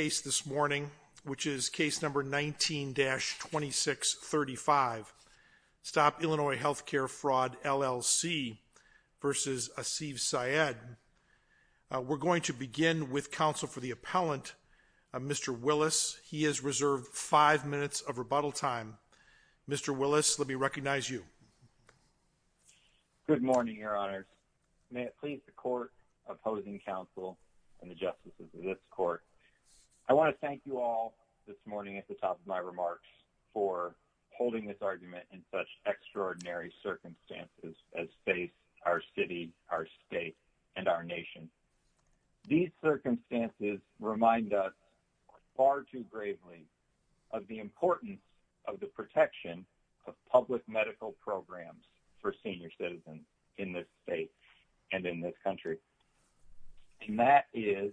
We're going to begin with counsel for the appellant, Mr. Willis. He has reserved five minutes of rebuttal time. Mr. Willis, let me recognize you. Good morning, your honors. May it please the court, opposing counsel, and the justices of this court, that I am here today to testify in support of Mr. Asif Sayeed. I want to thank you all this morning at the top of my remarks for holding this argument in such extraordinary circumstances as face our city, our state, and our nation. These circumstances remind us far too gravely of the importance of the protection of public medical programs for senior citizens in this state and in this country. And that is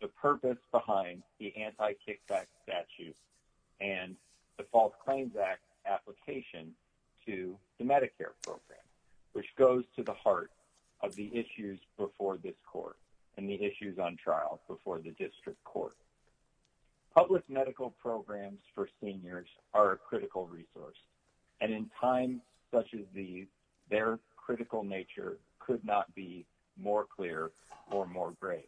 the purpose behind the Anti-Kickback Statute and the False Claims Act application to the Medicare program, which goes to the heart of the issues before this court and the issues on trial before the district court. Public medical programs for seniors are a critical resource, and in times such as these, their critical nature could not be more clear or more grave.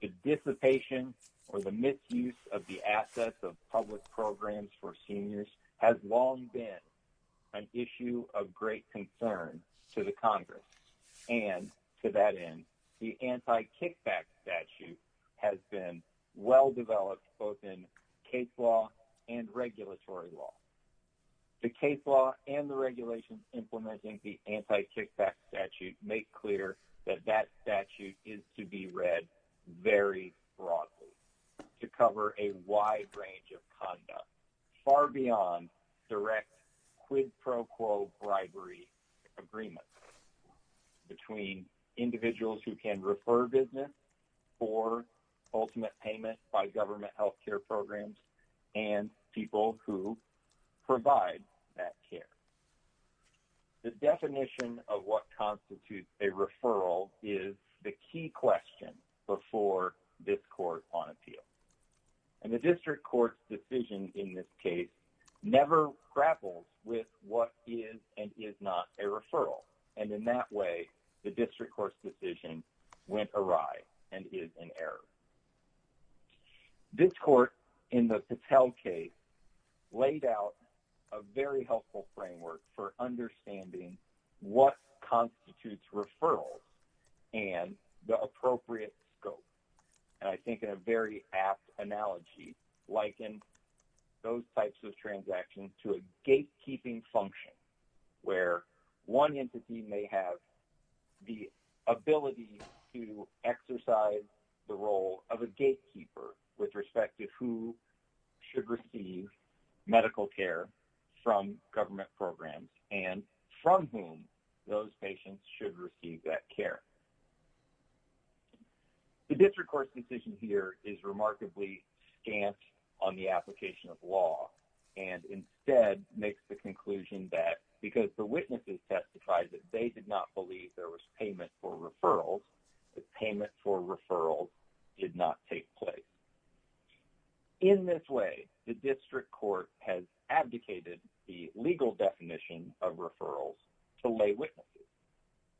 The dissipation or the misuse of the assets of public programs for seniors has long been an issue of great concern to the Congress, and to that end, the Anti-Kickback Statute has been well developed both in case law and regulatory law. The case law and the regulations implementing the Anti-Kickback Statute make clear that that statute is to be read very broadly to cover a wide range of conduct, far beyond direct quid pro quo bribery agreements between individuals who can refer business for ultimate payment by government health care programs and people who provide that care. The definition of what constitutes a referral is the key question before this court on appeal. And the district court's decision in this case never grapples with what is and is not a referral, and in that way, the district court's decision went awry and is an error. This court, in the Patel case, laid out a very helpful framework for understanding what constitutes referrals and the appropriate scope. And I think in a very apt analogy, liken those types of transactions to a gatekeeping function, where one entity may have the ability to exercise the role of a gatekeeper with respect to who should receive medical care from government programs and from whom those patients should receive that care. The district court's decision here is remarkably scant on the application of law and instead makes the conclusion that because the witnesses testified that they did not believe there was payment for referrals, the payment for referrals did not take place. In this way, the district court has abdicated the legal definition of referrals to lay witnesses,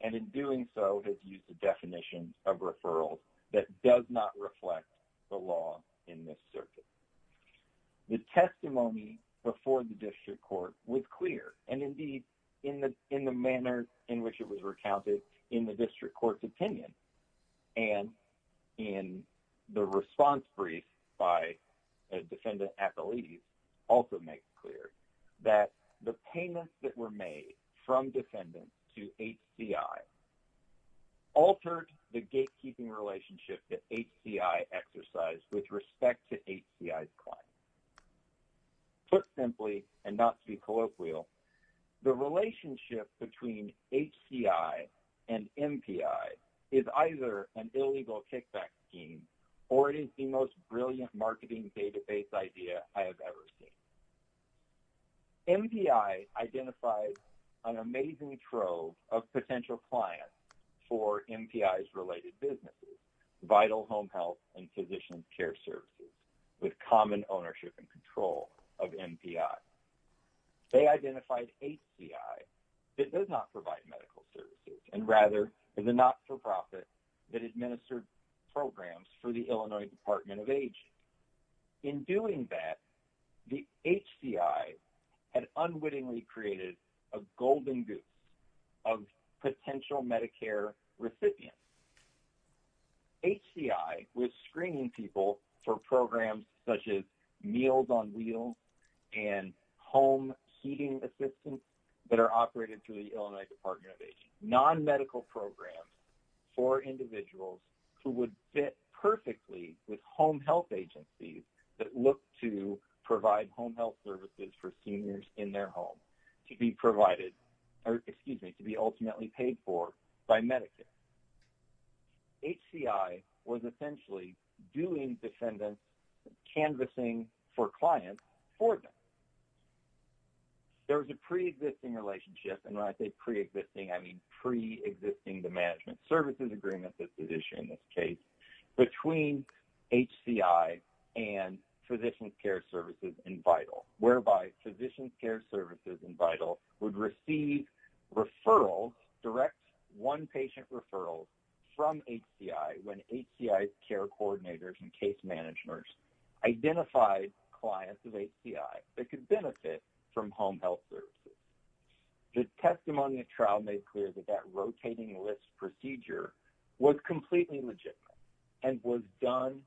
and in doing so, has used a definition of referrals that does not reflect the law in this circuit. The testimony before the district court was clear, and indeed, in the manner in which it was recounted in the district court's opinion, and in the response brief by a defendant at the lease, also makes clear that the payments that were made from defendants to HCI altered the gatekeeping relationship that HCI exercised with respect to HCI. Put simply, and not to be colloquial, the relationship between HCI and MPI is either an illegal kickback scheme, or it is the most brilliant marketing database idea I have ever seen. MPI identified an amazing trove of potential clients for MPI's related businesses, vital home health and physician care services, with common ownership and control of MPI. They identified HCI that does not provide medical services, and rather, is a not-for-profit that administered programs for the Illinois Department of Aging. In doing that, the HCI had unwittingly created a golden goose of potential Medicare recipients. HCI was screening people for programs such as Meals on Wheels and home heating assistance that are operated through the Illinois Department of Aging, non-medical programs for individuals who would fit perfectly with home health agencies that look to provide home health services for seniors in their home, to be ultimately paid for by Medicaid. HCI was essentially doing defendant canvassing for clients for them. There was a pre-existing relationship, and when I say pre-existing, I mean pre-existing the management services agreement that is issued in this case, between HCI and Physician Care Services and Vital, whereby Physician Care Services and Vital would receive referrals, direct one-patient referrals from HCI when HCI's care coordinators and case managers identified clients of HCI. They could benefit from home health services. The testimony of trial made clear that that rotating list procedure was completely legitimate and was done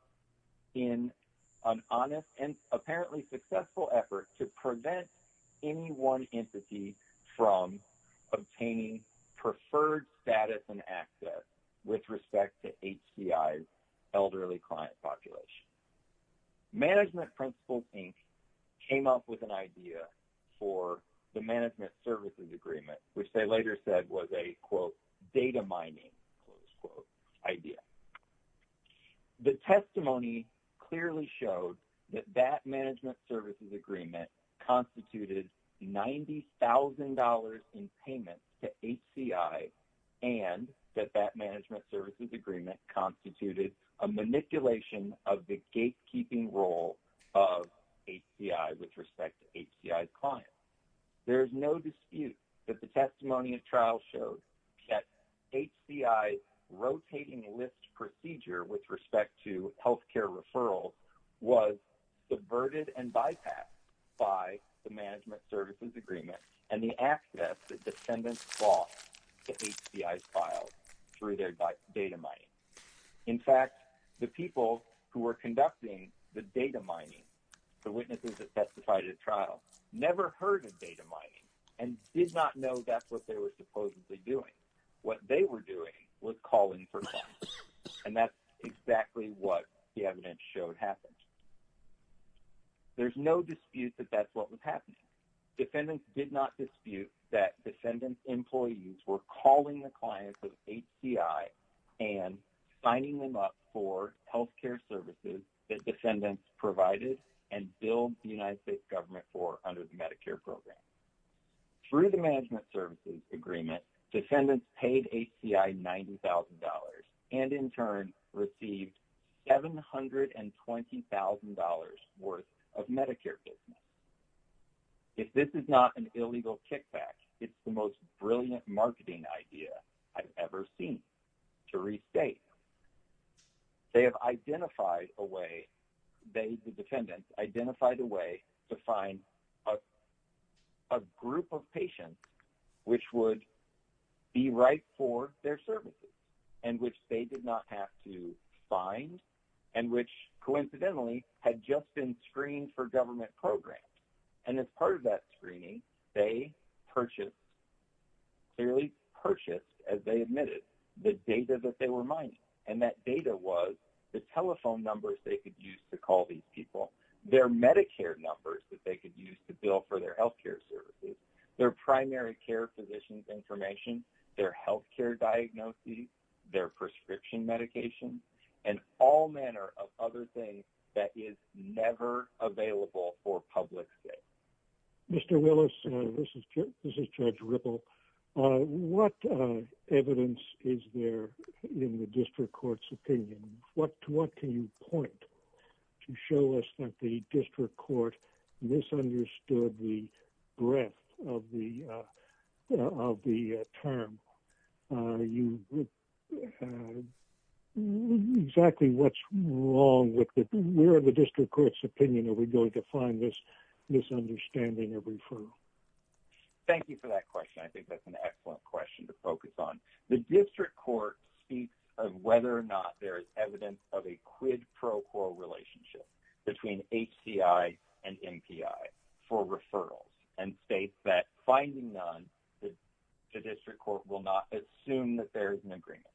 in an honest and apparently successful effort to prevent any one entity from obtaining preferred status and access with respect to HCI's elderly client population. Management Principles, Inc. came up with an idea for the management services agreement, which they later said was a, quote, data mining, close quote, idea. The testimony clearly showed that that management services agreement constituted $90,000 in payment to HCI and that that management services agreement constituted a manipulation of the gatekeeping role of HCI with respect to HCI's clients. There is no dispute that the testimony of trial showed that HCI's rotating list procedure with respect to healthcare referrals was subverted and bypassed by the management services agreement and the access that descendants lost to HCI's files through their data mining. In fact, the people who were conducting the data mining, the witnesses that testified at trial, never heard of data mining and did not know that's what they were supposedly doing. What they were doing was calling for funds. And that's exactly what the evidence showed happened. There's no dispute that that's what was happening. Defendants did not dispute that defendants' employees were calling the clients of HCI and signing them up for healthcare services that defendants provided and billed the United States government for under the Medicare program. Through the management services agreement, defendants paid HCI $90,000 and in turn received $720,000 worth of Medicare business. If this is not an illegal kickback, it's the most brilliant marketing idea I've ever seen to restate. They have identified a way, the defendants identified a way to find a group of patients which would be right for their services and which they did not have to find and which coincidentally had just been screened for government programs. And as part of that screening, they purchased, clearly purchased as they admitted, the data that they were mining. And that data was the telephone numbers they could use to call these people, their Medicare numbers that they could use to bill for their healthcare services, their primary care physician's information, their healthcare diagnoses, their prescription medications, and all manner of other things that is never available for public say. Mr. Willis, this is Judge Ripple. What evidence is there in the district court's opinion? What can you point to show us that the district court misunderstood the breadth of the term? Exactly what's wrong with the, where in the district court's opinion are we going to find this misunderstanding of referral? Thank you for that question. I think that's an excellent question to focus on. The district court speaks of whether or not there is evidence of a quid pro quo relationship between HCI and MPI for referrals and states that finding none, the district court will not assume that there is an agreement.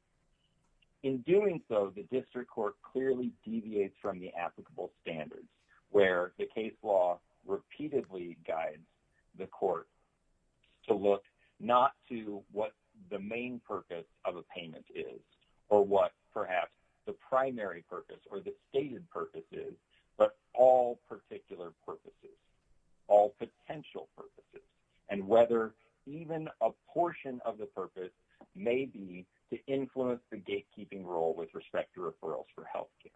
In doing so, the district court clearly deviates from the applicable standards where the case law repeatedly guides the court to look not to what the main purpose of a payment is or what perhaps the primary purpose or the stated purpose is, but all particular purposes, all potential purposes. And whether even a portion of the purpose may be to influence the gatekeeping role with respect to referrals for healthcare.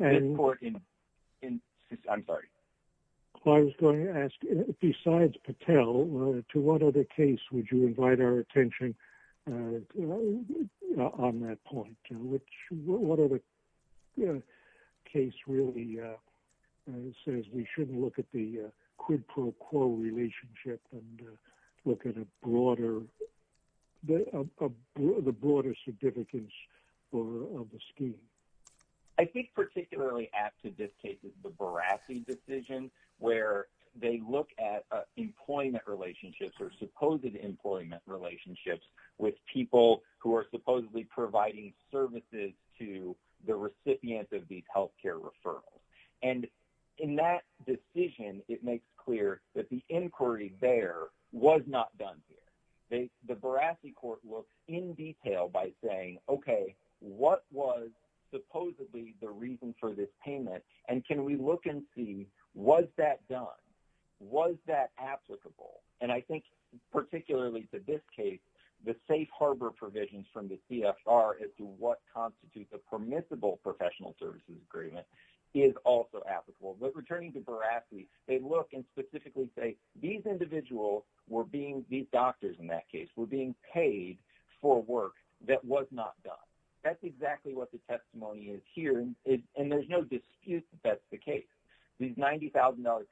I'm sorry. I was going to ask, besides Patel, to what other case would you invite our attention on that point? What other case really says we shouldn't look at the quid pro quo relationship and look at the broader significance of the scheme? I think particularly apt to this case is the Barassi decision where they look at employment relationships or supposed employment relationships with people who are supposedly providing services to the recipient of these healthcare referrals. And in that decision, it makes clear that the inquiry there was not done here. The Barassi court looks in detail by saying, okay, what was supposedly the reason for this payment and can we look and see was that done? Was that applicable? And I think particularly to this case, the safe harbor provisions from the CFR as to what constitutes a permissible professional services agreement is also applicable. But returning to Barassi, they look and specifically say these individuals were being, these doctors in that case, were being paid for work that was not done. That's exactly what the testimony is here. And there's no dispute that that's the case. These $90,000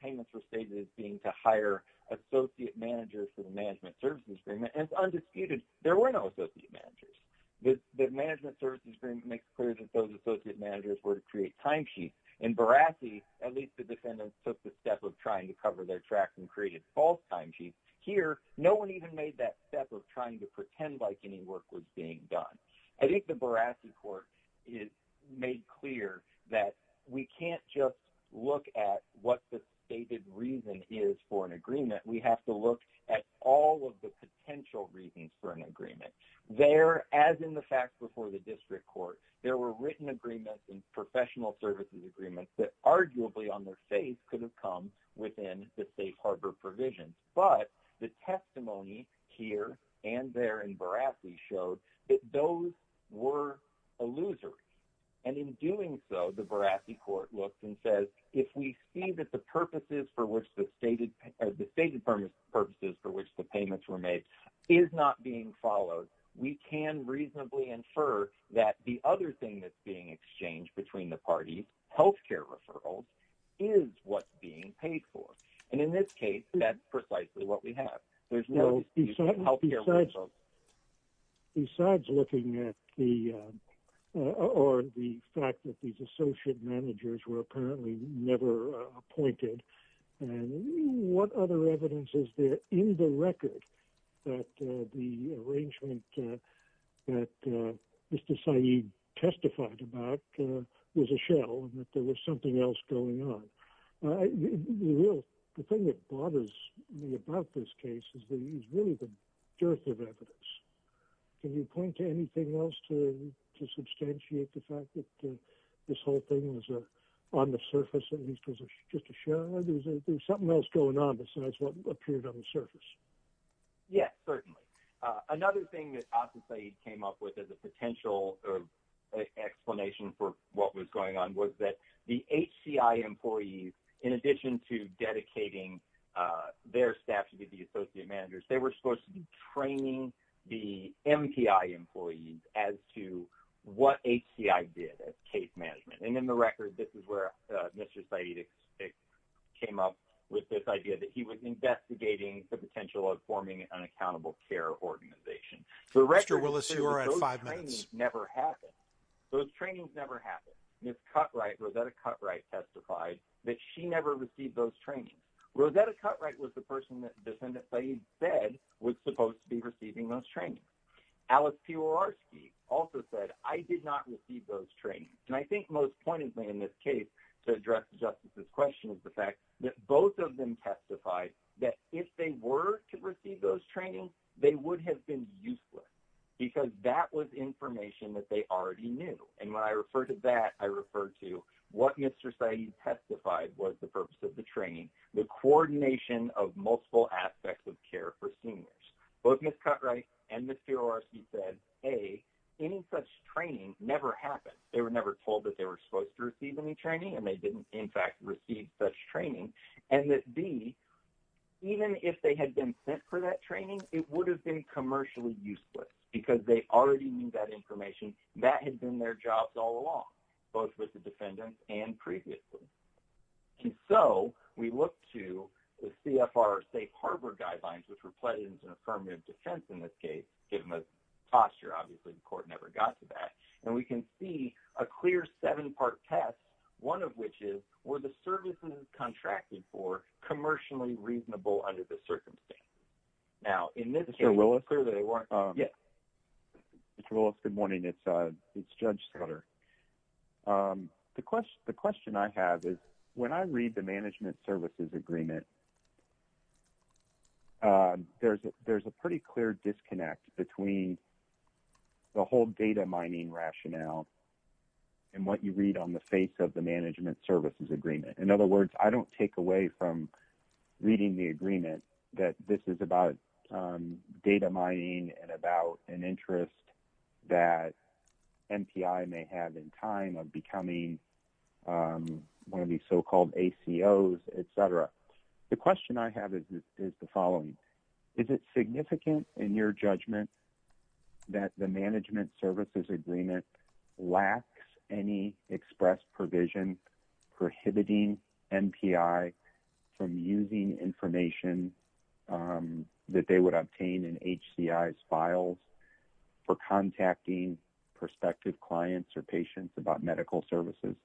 payments were stated as being to hire associate managers for the management services agreement, and it's undisputed. There were no associate managers. The management services agreement makes clear that those associate managers were to create timesheets. In Barassi, at least the defendants took the step of trying to cover their tracks and created false timesheets. Here, no one even made that step of trying to pretend like any work was being done. I think the Barassi court made clear that we can't just look at what the stated reason is for an agreement. We have to look at all of the potential reasons for an agreement. There, as in the fact before the district court, there were written agreements and professional services agreements that arguably on their face could have come within the safe harbor provisions. But the testimony here and there in Barassi showed that those were illusory. And in doing so, the Barassi court looked and said, if we see that the purposes for which the stated purposes for which the payments were made is not being followed, we can reasonably infer that the other thing that's being exchanged between the parties, health care referrals, is what's being paid for. And in this case, that's precisely what we have. Besides looking at the fact that these associate managers were apparently never appointed, what other evidence is there in the record that the arrangement that Mr. Saeed testified about was a shell and that there was something else going on? The thing that bothers me about this case is really the dearth of evidence. Can you point to anything else to substantiate the fact that this whole thing was on the surface, at least because it's just a shell? There's something else going on besides what appeared on the surface. Yes, certainly. Another thing that Asa Saeed came up with as a potential explanation for what was going on was that the HCI employees, in addition to dedicating their staff to the associate managers, they were supposed to be training the MPI employees as to what HCI did as case management. And in the record, this is where Mr. Saeed came up with this idea that he was investigating the potential of forming an accountable care organization. Mr. Willis, you are at five minutes. Those trainings never happened. Ms. Cutright, Rosetta Cutright, testified that she never received those trainings. Rosetta Cutright was the person that Defendant Saeed said was supposed to be receiving those trainings. Alice Piorarski also said, I did not receive those trainings. And I think most pointedly in this case to address Justice's question is the fact that both of them testified that if they were to receive those trainings, they would have been useless because that was information that they already knew. And when I refer to that, I refer to what Mr. Saeed testified was the purpose of the training, the coordination of multiple aspects of care for seniors. Both Ms. Cutright and Ms. Piorarski said, A, any such training never happened. They were never told that they were supposed to receive any training, and they didn't, in fact, receive such training. And that, B, even if they had been sent for that training, it would have been commercially useless because they already knew that information. That had been their jobs all along, both with the defendants and previously. And so we look to the CFR Safe Harbor Guidelines, which were put into affirmative defense in this case, given the posture, obviously, the court never got to that. And we can see a clear seven-part test, one of which is, were the services contracted for commercially reasonable under the circumstances? Now, in this case, it's clear that they weren't. Mr. Willis? Yes. Mr. Willis, good morning. It's Judge Sutter. The question I have is, when I read the Management Services Agreement, there's a pretty clear disconnect between the whole data mining rationale and what you read on the face of the Management Services Agreement. In other words, I don't take away from reading the agreement that this is about data mining and about an interest that MPI may have in time of becoming one of these so-called ACOs, et cetera. The question I have is the following. Is it significant, in your judgment, that the Management Services Agreement lacks any express provision prohibiting MPI from using information that they would obtain in HCI's files for contacting prospective clients or patients about medical services?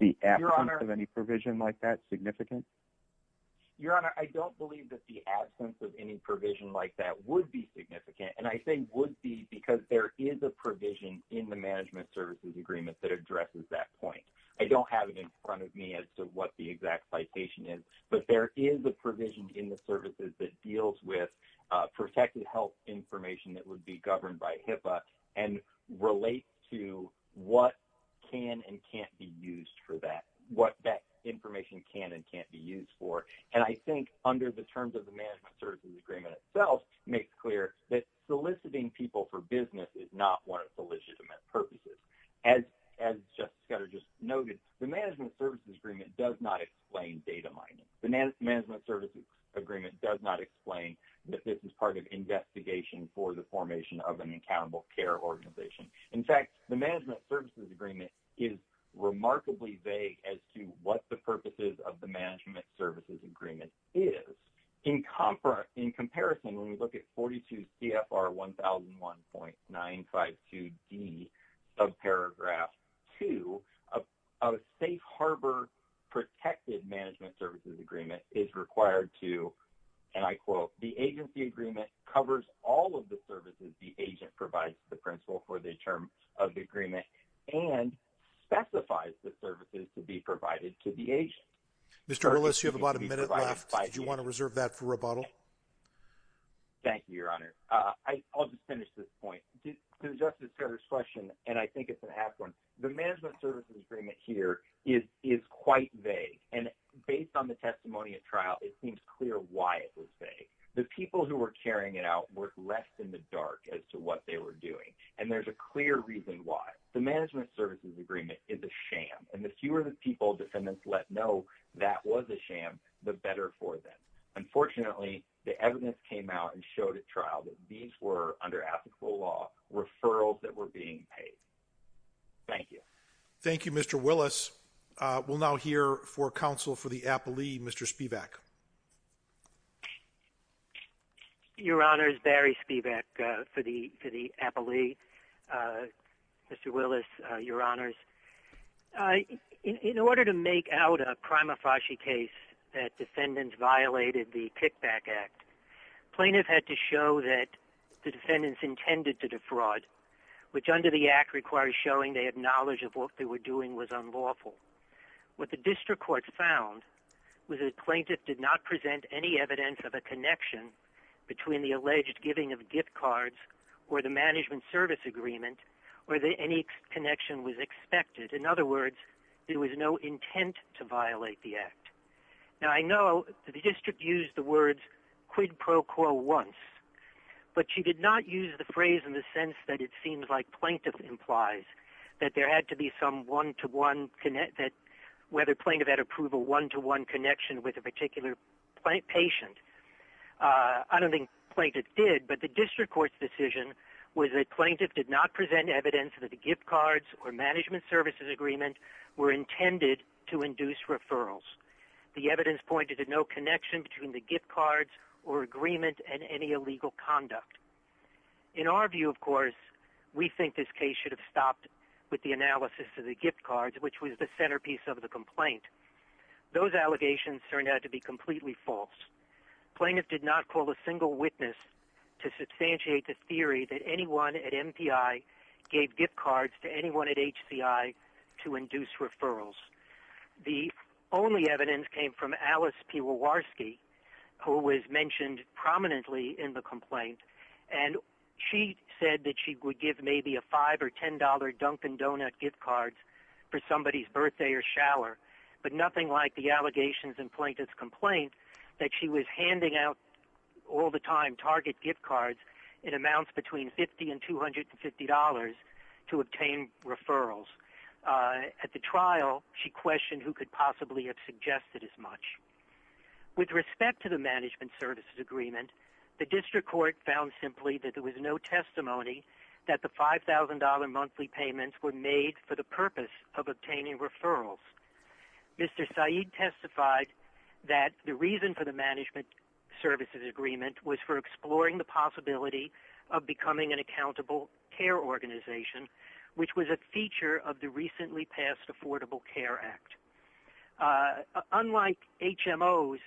The absence of any provision like that significant? Your Honor, I don't believe that the absence of any provision like that would be significant, and I say would be because there is a provision in the Management Services Agreement that addresses that point. I don't have it in front of me as to what the exact citation is, but there is a provision in the services that deals with protected health information that would be governed by HIPAA and relate to what can and can't be used for that, what that information can and can't be used for. And I think under the terms of the Management Services Agreement itself makes clear that soliciting people for business is not one of the legitimate purposes. As Justice Cutter just noted, the Management Services Agreement does not explain data mining. The Management Services Agreement does not explain that this is part of investigation for the formation of an accountable care organization. In fact, the Management Services Agreement is remarkably vague as to what the purposes of the Management Services Agreement is. In comparison, when we look at 42 CFR 1001.952D, subparagraph 2, a safe harbor protected Management Services Agreement is required to, and I quote, the agency agreement covers all of the services the agent provides to the principal for the term of the agreement and specifies the services to be provided to the agent. Mr. Willis, you have about a minute left. Do you want to reserve that for rebuttal? Thank you, Your Honor. I'll just finish this point. To Justice Cutter's question, and I think it's an apt one, the Management Services Agreement here is quite vague. And based on the testimony at trial, it seems clear why it was vague. The people who were carrying it out were left in the dark as to what they were doing. And there's a clear reason why. The Management Services Agreement is a sham. And the fewer the people defendants let know that was a sham, the better for them. Unfortunately, the evidence came out and showed at trial that these were, under applicable law, referrals that were being paid. Thank you. Thank you, Mr. Willis. We'll now hear for counsel for the appellee, Mr. Spivak. Your Honor, it's Barry Spivak for the appellee. Mr. Willis, Your Honors, in order to make out a prima facie case that defendants violated the Kickback Act, plaintiff had to show that the defendants intended to defraud, which under the act requires showing they had knowledge of what they were doing was unlawful. What the district court found was that the plaintiff did not present any evidence of a connection between the alleged giving of gift cards or the Management Service Agreement or that any connection was expected. In other words, there was no intent to violate the act. Now, I know the district used the words quid pro quo once, but she did not use the phrase in the sense that it seems like plaintiff implies, that there had to be some one-to-one, whether plaintiff had approval, one-to-one connection with a particular patient. I don't think plaintiff did, but the district court's decision was that plaintiff did not present evidence that the gift cards or Management Services Agreement were intended to induce referrals. The evidence pointed to no connection between the gift cards or agreement and any illegal conduct. In our view, of course, we think this case should have stopped with the analysis of the gift cards, which was the centerpiece of the complaint. Those allegations turned out to be completely false. Plaintiff did not call a single witness to substantiate the theory that anyone at MPI gave gift cards to anyone at HCI to induce referrals. The only evidence came from Alice Piewarski, who was mentioned prominently in the complaint, and she said that she would give maybe a $5 or $10 Dunkin' Donut gift card for somebody's birthday or shower, but nothing like the allegations in plaintiff's complaint that she was handing out all the time target gift cards in amounts between $50 and $250 to obtain referrals. At the trial, she questioned who could possibly have suggested as much. With respect to the Management Services Agreement, the district court found simply that there was no testimony that the $5,000 monthly payments were made for the purpose of obtaining referrals. Mr. Saeed testified that the reason for the Management Services Agreement was for exploring the possibility of becoming an accountable care organization, which was a feature of the recently passed Affordable Care Act. Unlike HMOs,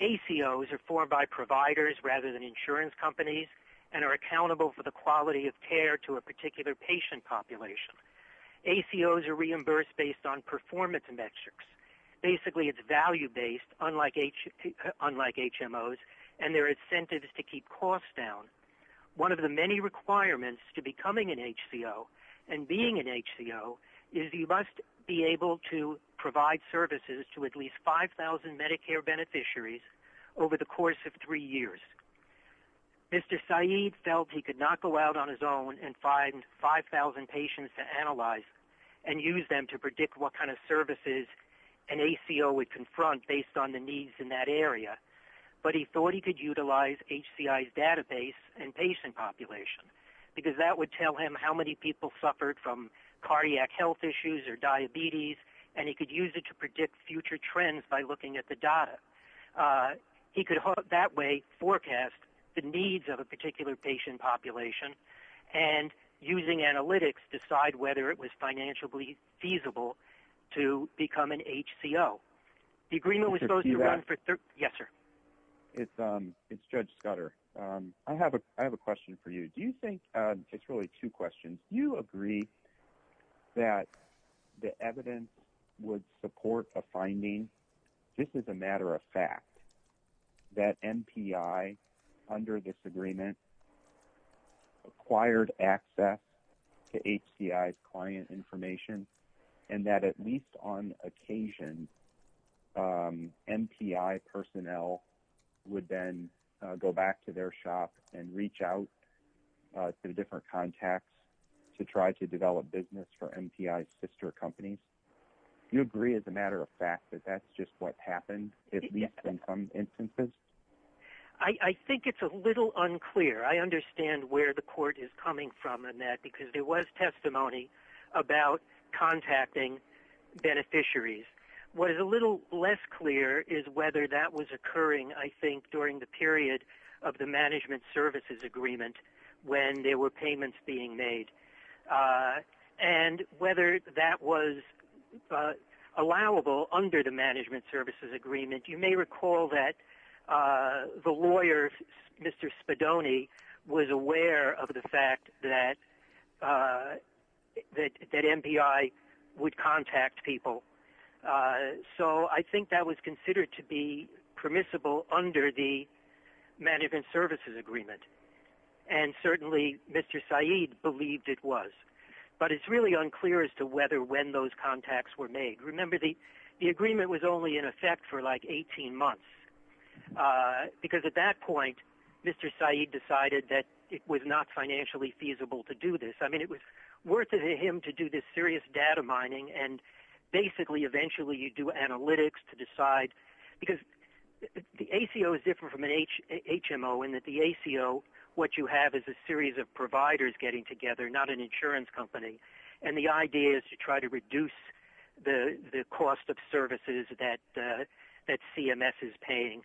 ACOs are formed by providers rather than insurance companies and are accountable for the quality of care to a particular patient population. ACOs are reimbursed based on performance metrics. Basically, it's value-based, unlike HMOs, and there are incentives to keep costs down. One of the many requirements to becoming an HCO and being an HCO is you must be able to provide services to at least 5,000 Medicare beneficiaries over the course of three years. Mr. Saeed felt he could not go out on his own and find 5,000 patients to analyze and use them to predict what kind of services an ACO would confront based on the needs in that area, but he thought he could utilize HCI's database and patient population because that would tell him how many people suffered from cardiac health issues or diabetes, and he could use it to predict future trends by looking at the data. He could that way forecast the needs of a particular patient population and, using analytics, decide whether it was financially feasible to become an HCO. The agreement was supposed to run for 30- Did you hear that? Yes, sir. It's Judge Scudder. I have a question for you. It's really two questions. Do you agree that the evidence would support a finding, just as a matter of fact, that MPI, under this agreement, acquired access to HCI's client information and that, at least on occasion, MPI personnel would then go back to their shop and reach out to different contacts to try to develop business for MPI's sister companies? Do you agree, as a matter of fact, that that's just what happened, at least in some instances? I think it's a little unclear. I understand where the court is coming from on that because there was testimony about contacting beneficiaries. What is a little less clear is whether that was occurring, I think, during the period of the management services agreement when there were payments being made and whether that was allowable under the management services agreement. You may recall that the lawyer, Mr. Spadoni, was aware of the fact that MPI would contact people. So I think that was considered to be permissible under the management services agreement. And certainly, Mr. Saeed believed it was. But it's really unclear as to whether when those contacts were made. Remember, the agreement was only in effect for like 18 months because, at that point, Mr. Saeed decided that it was not financially feasible to do this. I mean, it was worth it to him to do this serious data mining and basically, eventually, you do analytics to decide because the ACO is different from an HMO in that the ACO, what you have is a series of providers getting together, not an insurance company. And the idea is to try to reduce the cost of services that CMS is paying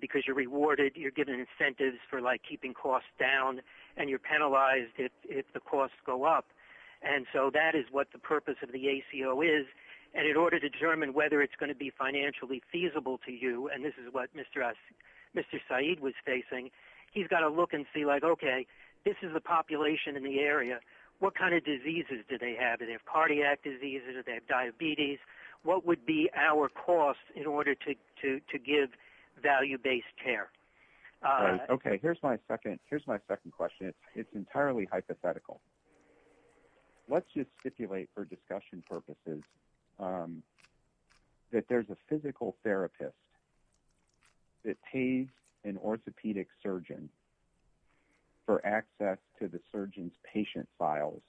because you're rewarded, you're given incentives for keeping costs down, and you're penalized if the costs go up. And so that is what the purpose of the ACO is. And in order to determine whether it's going to be financially feasible to you, and this is what Mr. Saeed was facing, he's got to look and see like, okay, this is the population in the area. What kind of diseases do they have? Do they have cardiac diseases? Do they have diabetes? What would be our cost in order to give value-based care? Okay, here's my second question. It's entirely hypothetical. Let's just stipulate for discussion purposes that there's a physical therapist that pays an orthopedic surgeon for access to the surgeon's patient files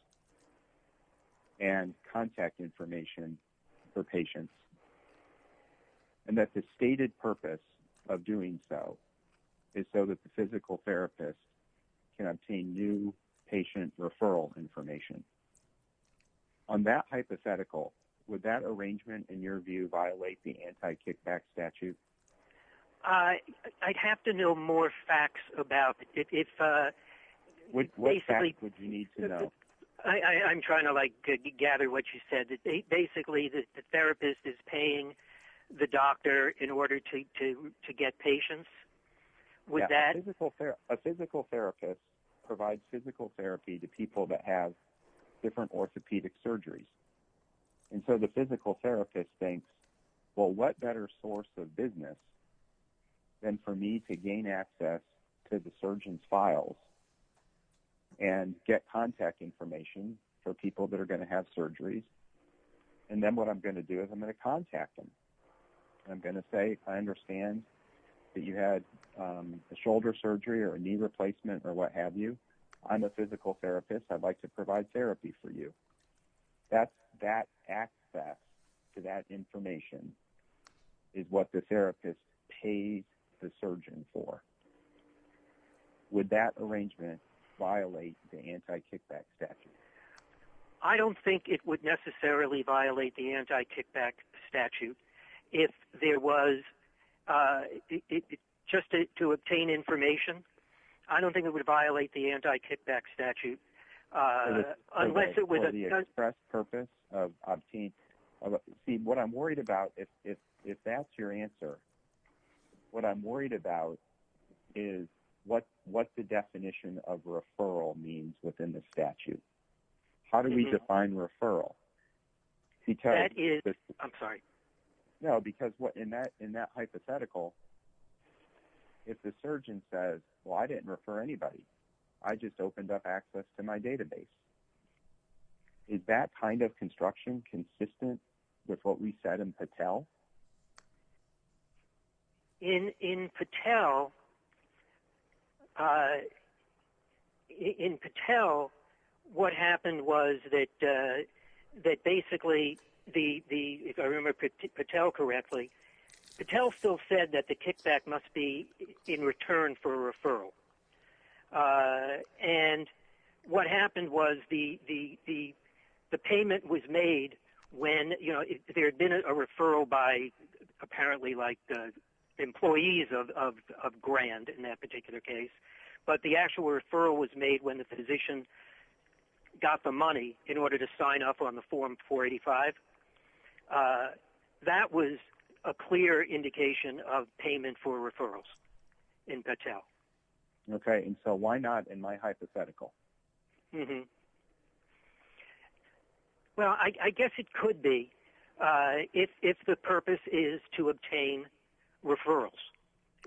and contact information for patients, and that the stated purpose of doing so is so that the physical therapist can obtain new patient referral information. On that hypothetical, would that arrangement, in your view, violate the anti-kickback statute? I'd have to know more facts about it. What facts would you need to know? I'm trying to, like, gather what you said, that basically the therapist is paying the doctor in order to get patients? A physical therapist provides physical therapy to people that have different orthopedic surgeries. And so the physical therapist thinks, well, what better source of business than for me to gain access to the surgeon's files and get contact information for people that are going to have surgeries? And then what I'm going to do is I'm going to contact them. I'm going to say, I understand that you had a shoulder surgery or a knee replacement or what have you. I'm a physical therapist. I'd like to provide therapy for you. That access to that information is what the therapist pays the surgeon for. Would that arrangement violate the anti-kickback statute? I don't think it would necessarily violate the anti-kickback statute. If there was just to obtain information, I don't think it would violate the anti-kickback statute unless it was a For the express purpose of obtaining. See, what I'm worried about, if that's your answer, what I'm worried about is what the definition of referral means within the statute. How do we define referral? I'm sorry. No, because in that hypothetical, if the surgeon says, well, I didn't refer anybody. I just opened up access to my database. Is that kind of construction consistent with what we said in Patel? In Patel, what happened was that basically, if I remember Patel correctly, Patel still said that the kickback must be in return for a referral. What happened was the payment was made when there had been a referral by apparently like employees of Grand in that particular case, but the actual referral was made when the physician got the money in order to sign up on the Form 485. That was a clear indication of payment for referrals in Patel. Okay. And so why not in my hypothetical? Well, I guess it could be if the purpose is to obtain referrals,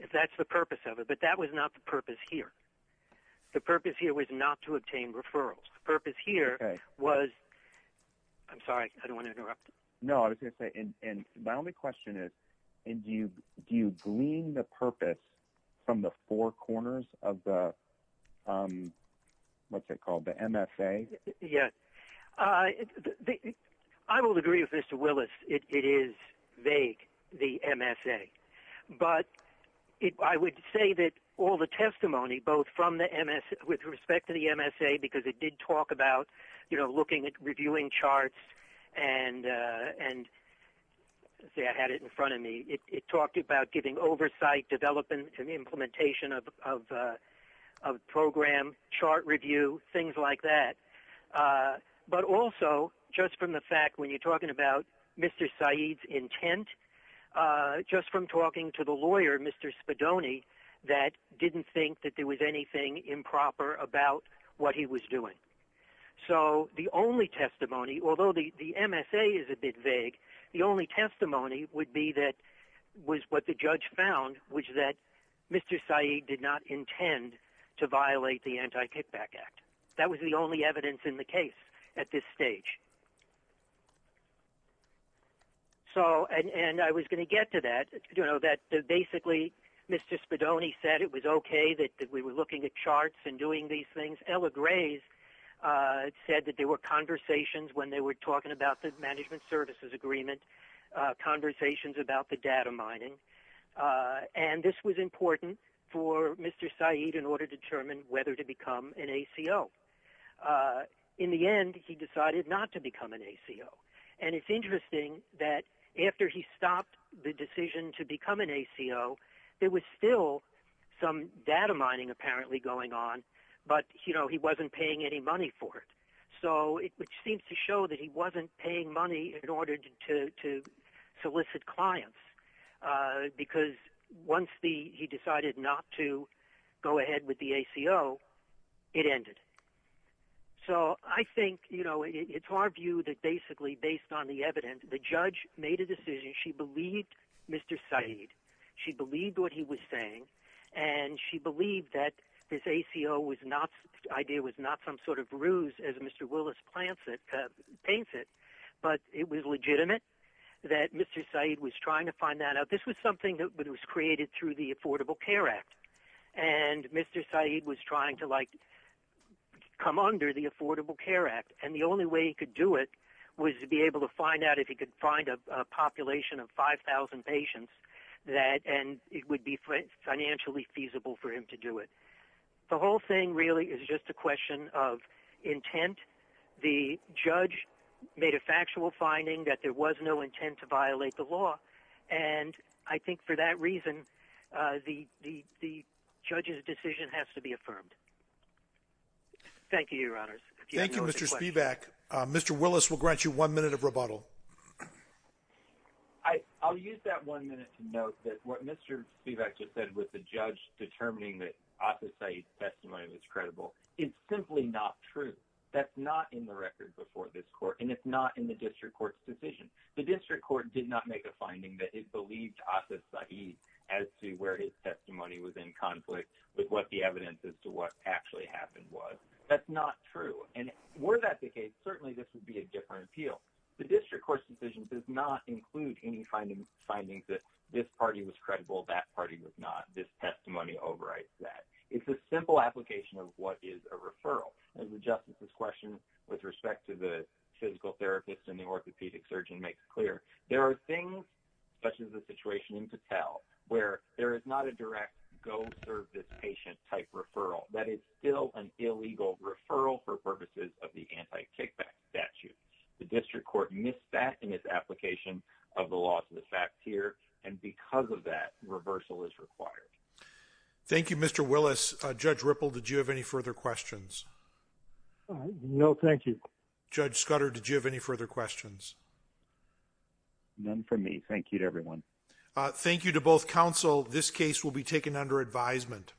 if that's the purpose of it. But that was not the purpose here. The purpose here was not to obtain referrals. Okay. I'm sorry. I don't want to interrupt. No, I was going to say, and my only question is, do you glean the purpose from the four corners of the, what's it called, the MSA? Yes. I will agree with Mr. Willis. It is vague, the MSA. But I would say that all the testimony, both from the MSA, with respect to the MSA, because it did talk about looking at reviewing charts and I had it in front of me. It talked about giving oversight, developing an implementation of a program, chart review, things like that. But also just from the fact when you're talking about Mr. Saeed's intent, just from talking to the lawyer, Mr. Spadoni, that didn't think that there was anything improper about what he was doing. So the only testimony, although the MSA is a bit vague, the only testimony would be that was what the judge found, which is that Mr. Saeed did not intend to violate the Anti-Kickback Act. That was the only evidence in the case at this stage. And I was going to get to that, that basically Mr. Spadoni said it was okay that we were looking at charts and doing these things. Ella Grace said that there were conversations when they were talking about the Management Services Agreement, conversations about the data mining. And this was important for Mr. Saeed in order to determine whether to become an ACO. In the end, he decided not to become an ACO. And it's interesting that after he stopped the decision to become an ACO, there was still some data mining apparently going on, but he wasn't paying any money for it, which seems to show that he wasn't paying money in order to solicit clients because once he decided not to go ahead with the ACO, it ended. So I think it's our view that basically based on the evidence, the judge made a decision. She believed Mr. Saeed. She believed what he was saying, and she believed that this ACO idea was not some sort of ruse, as Mr. Willis paints it, but it was legitimate that Mr. Saeed was trying to find that out. This was something that was created through the Affordable Care Act, and Mr. Saeed was trying to come under the Affordable Care Act, and the only way he could do it was to be able to find out if he could find a population of 5,000 patients and it would be financially feasible for him to do it. The whole thing really is just a question of intent. The judge made a factual finding that there was no intent to violate the law, and I think for that reason the judge's decision has to be affirmed. Thank you, Your Honors. Thank you, Mr. Spivak. Mr. Willis will grant you one minute of rebuttal. I'll use that one minute to note that what Mr. Spivak just said with the judge determining that Atif Saeed's testimony was credible is simply not true. That's not in the record before this court, and it's not in the district court's decision. The district court did not make a finding that it believed Atif Saeed as to where his testimony was in conflict with what the evidence as to what actually happened was. That's not true. And were that the case, certainly this would be a different appeal. The district court's decision does not include any findings that this party was credible, that party was not, this testimony overrides that. It's a simple application of what is a referral. As the justice's question with respect to the physical therapist and the orthopedic surgeon makes clear, there are things, such as the situation in Patel, where there is not a direct go-serve-this-patient type referral. That is still an illegal referral for purposes of the anti-kickback statute. The district court missed that in its application of the laws of the fact here, and because of that, reversal is required. Thank you, Mr. Willis. Judge Ripple, did you have any further questions? No, thank you. Judge Scudder, did you have any further questions? None from me. Thank you to everyone. Thank you to both counsel. This case will be taken under advisement.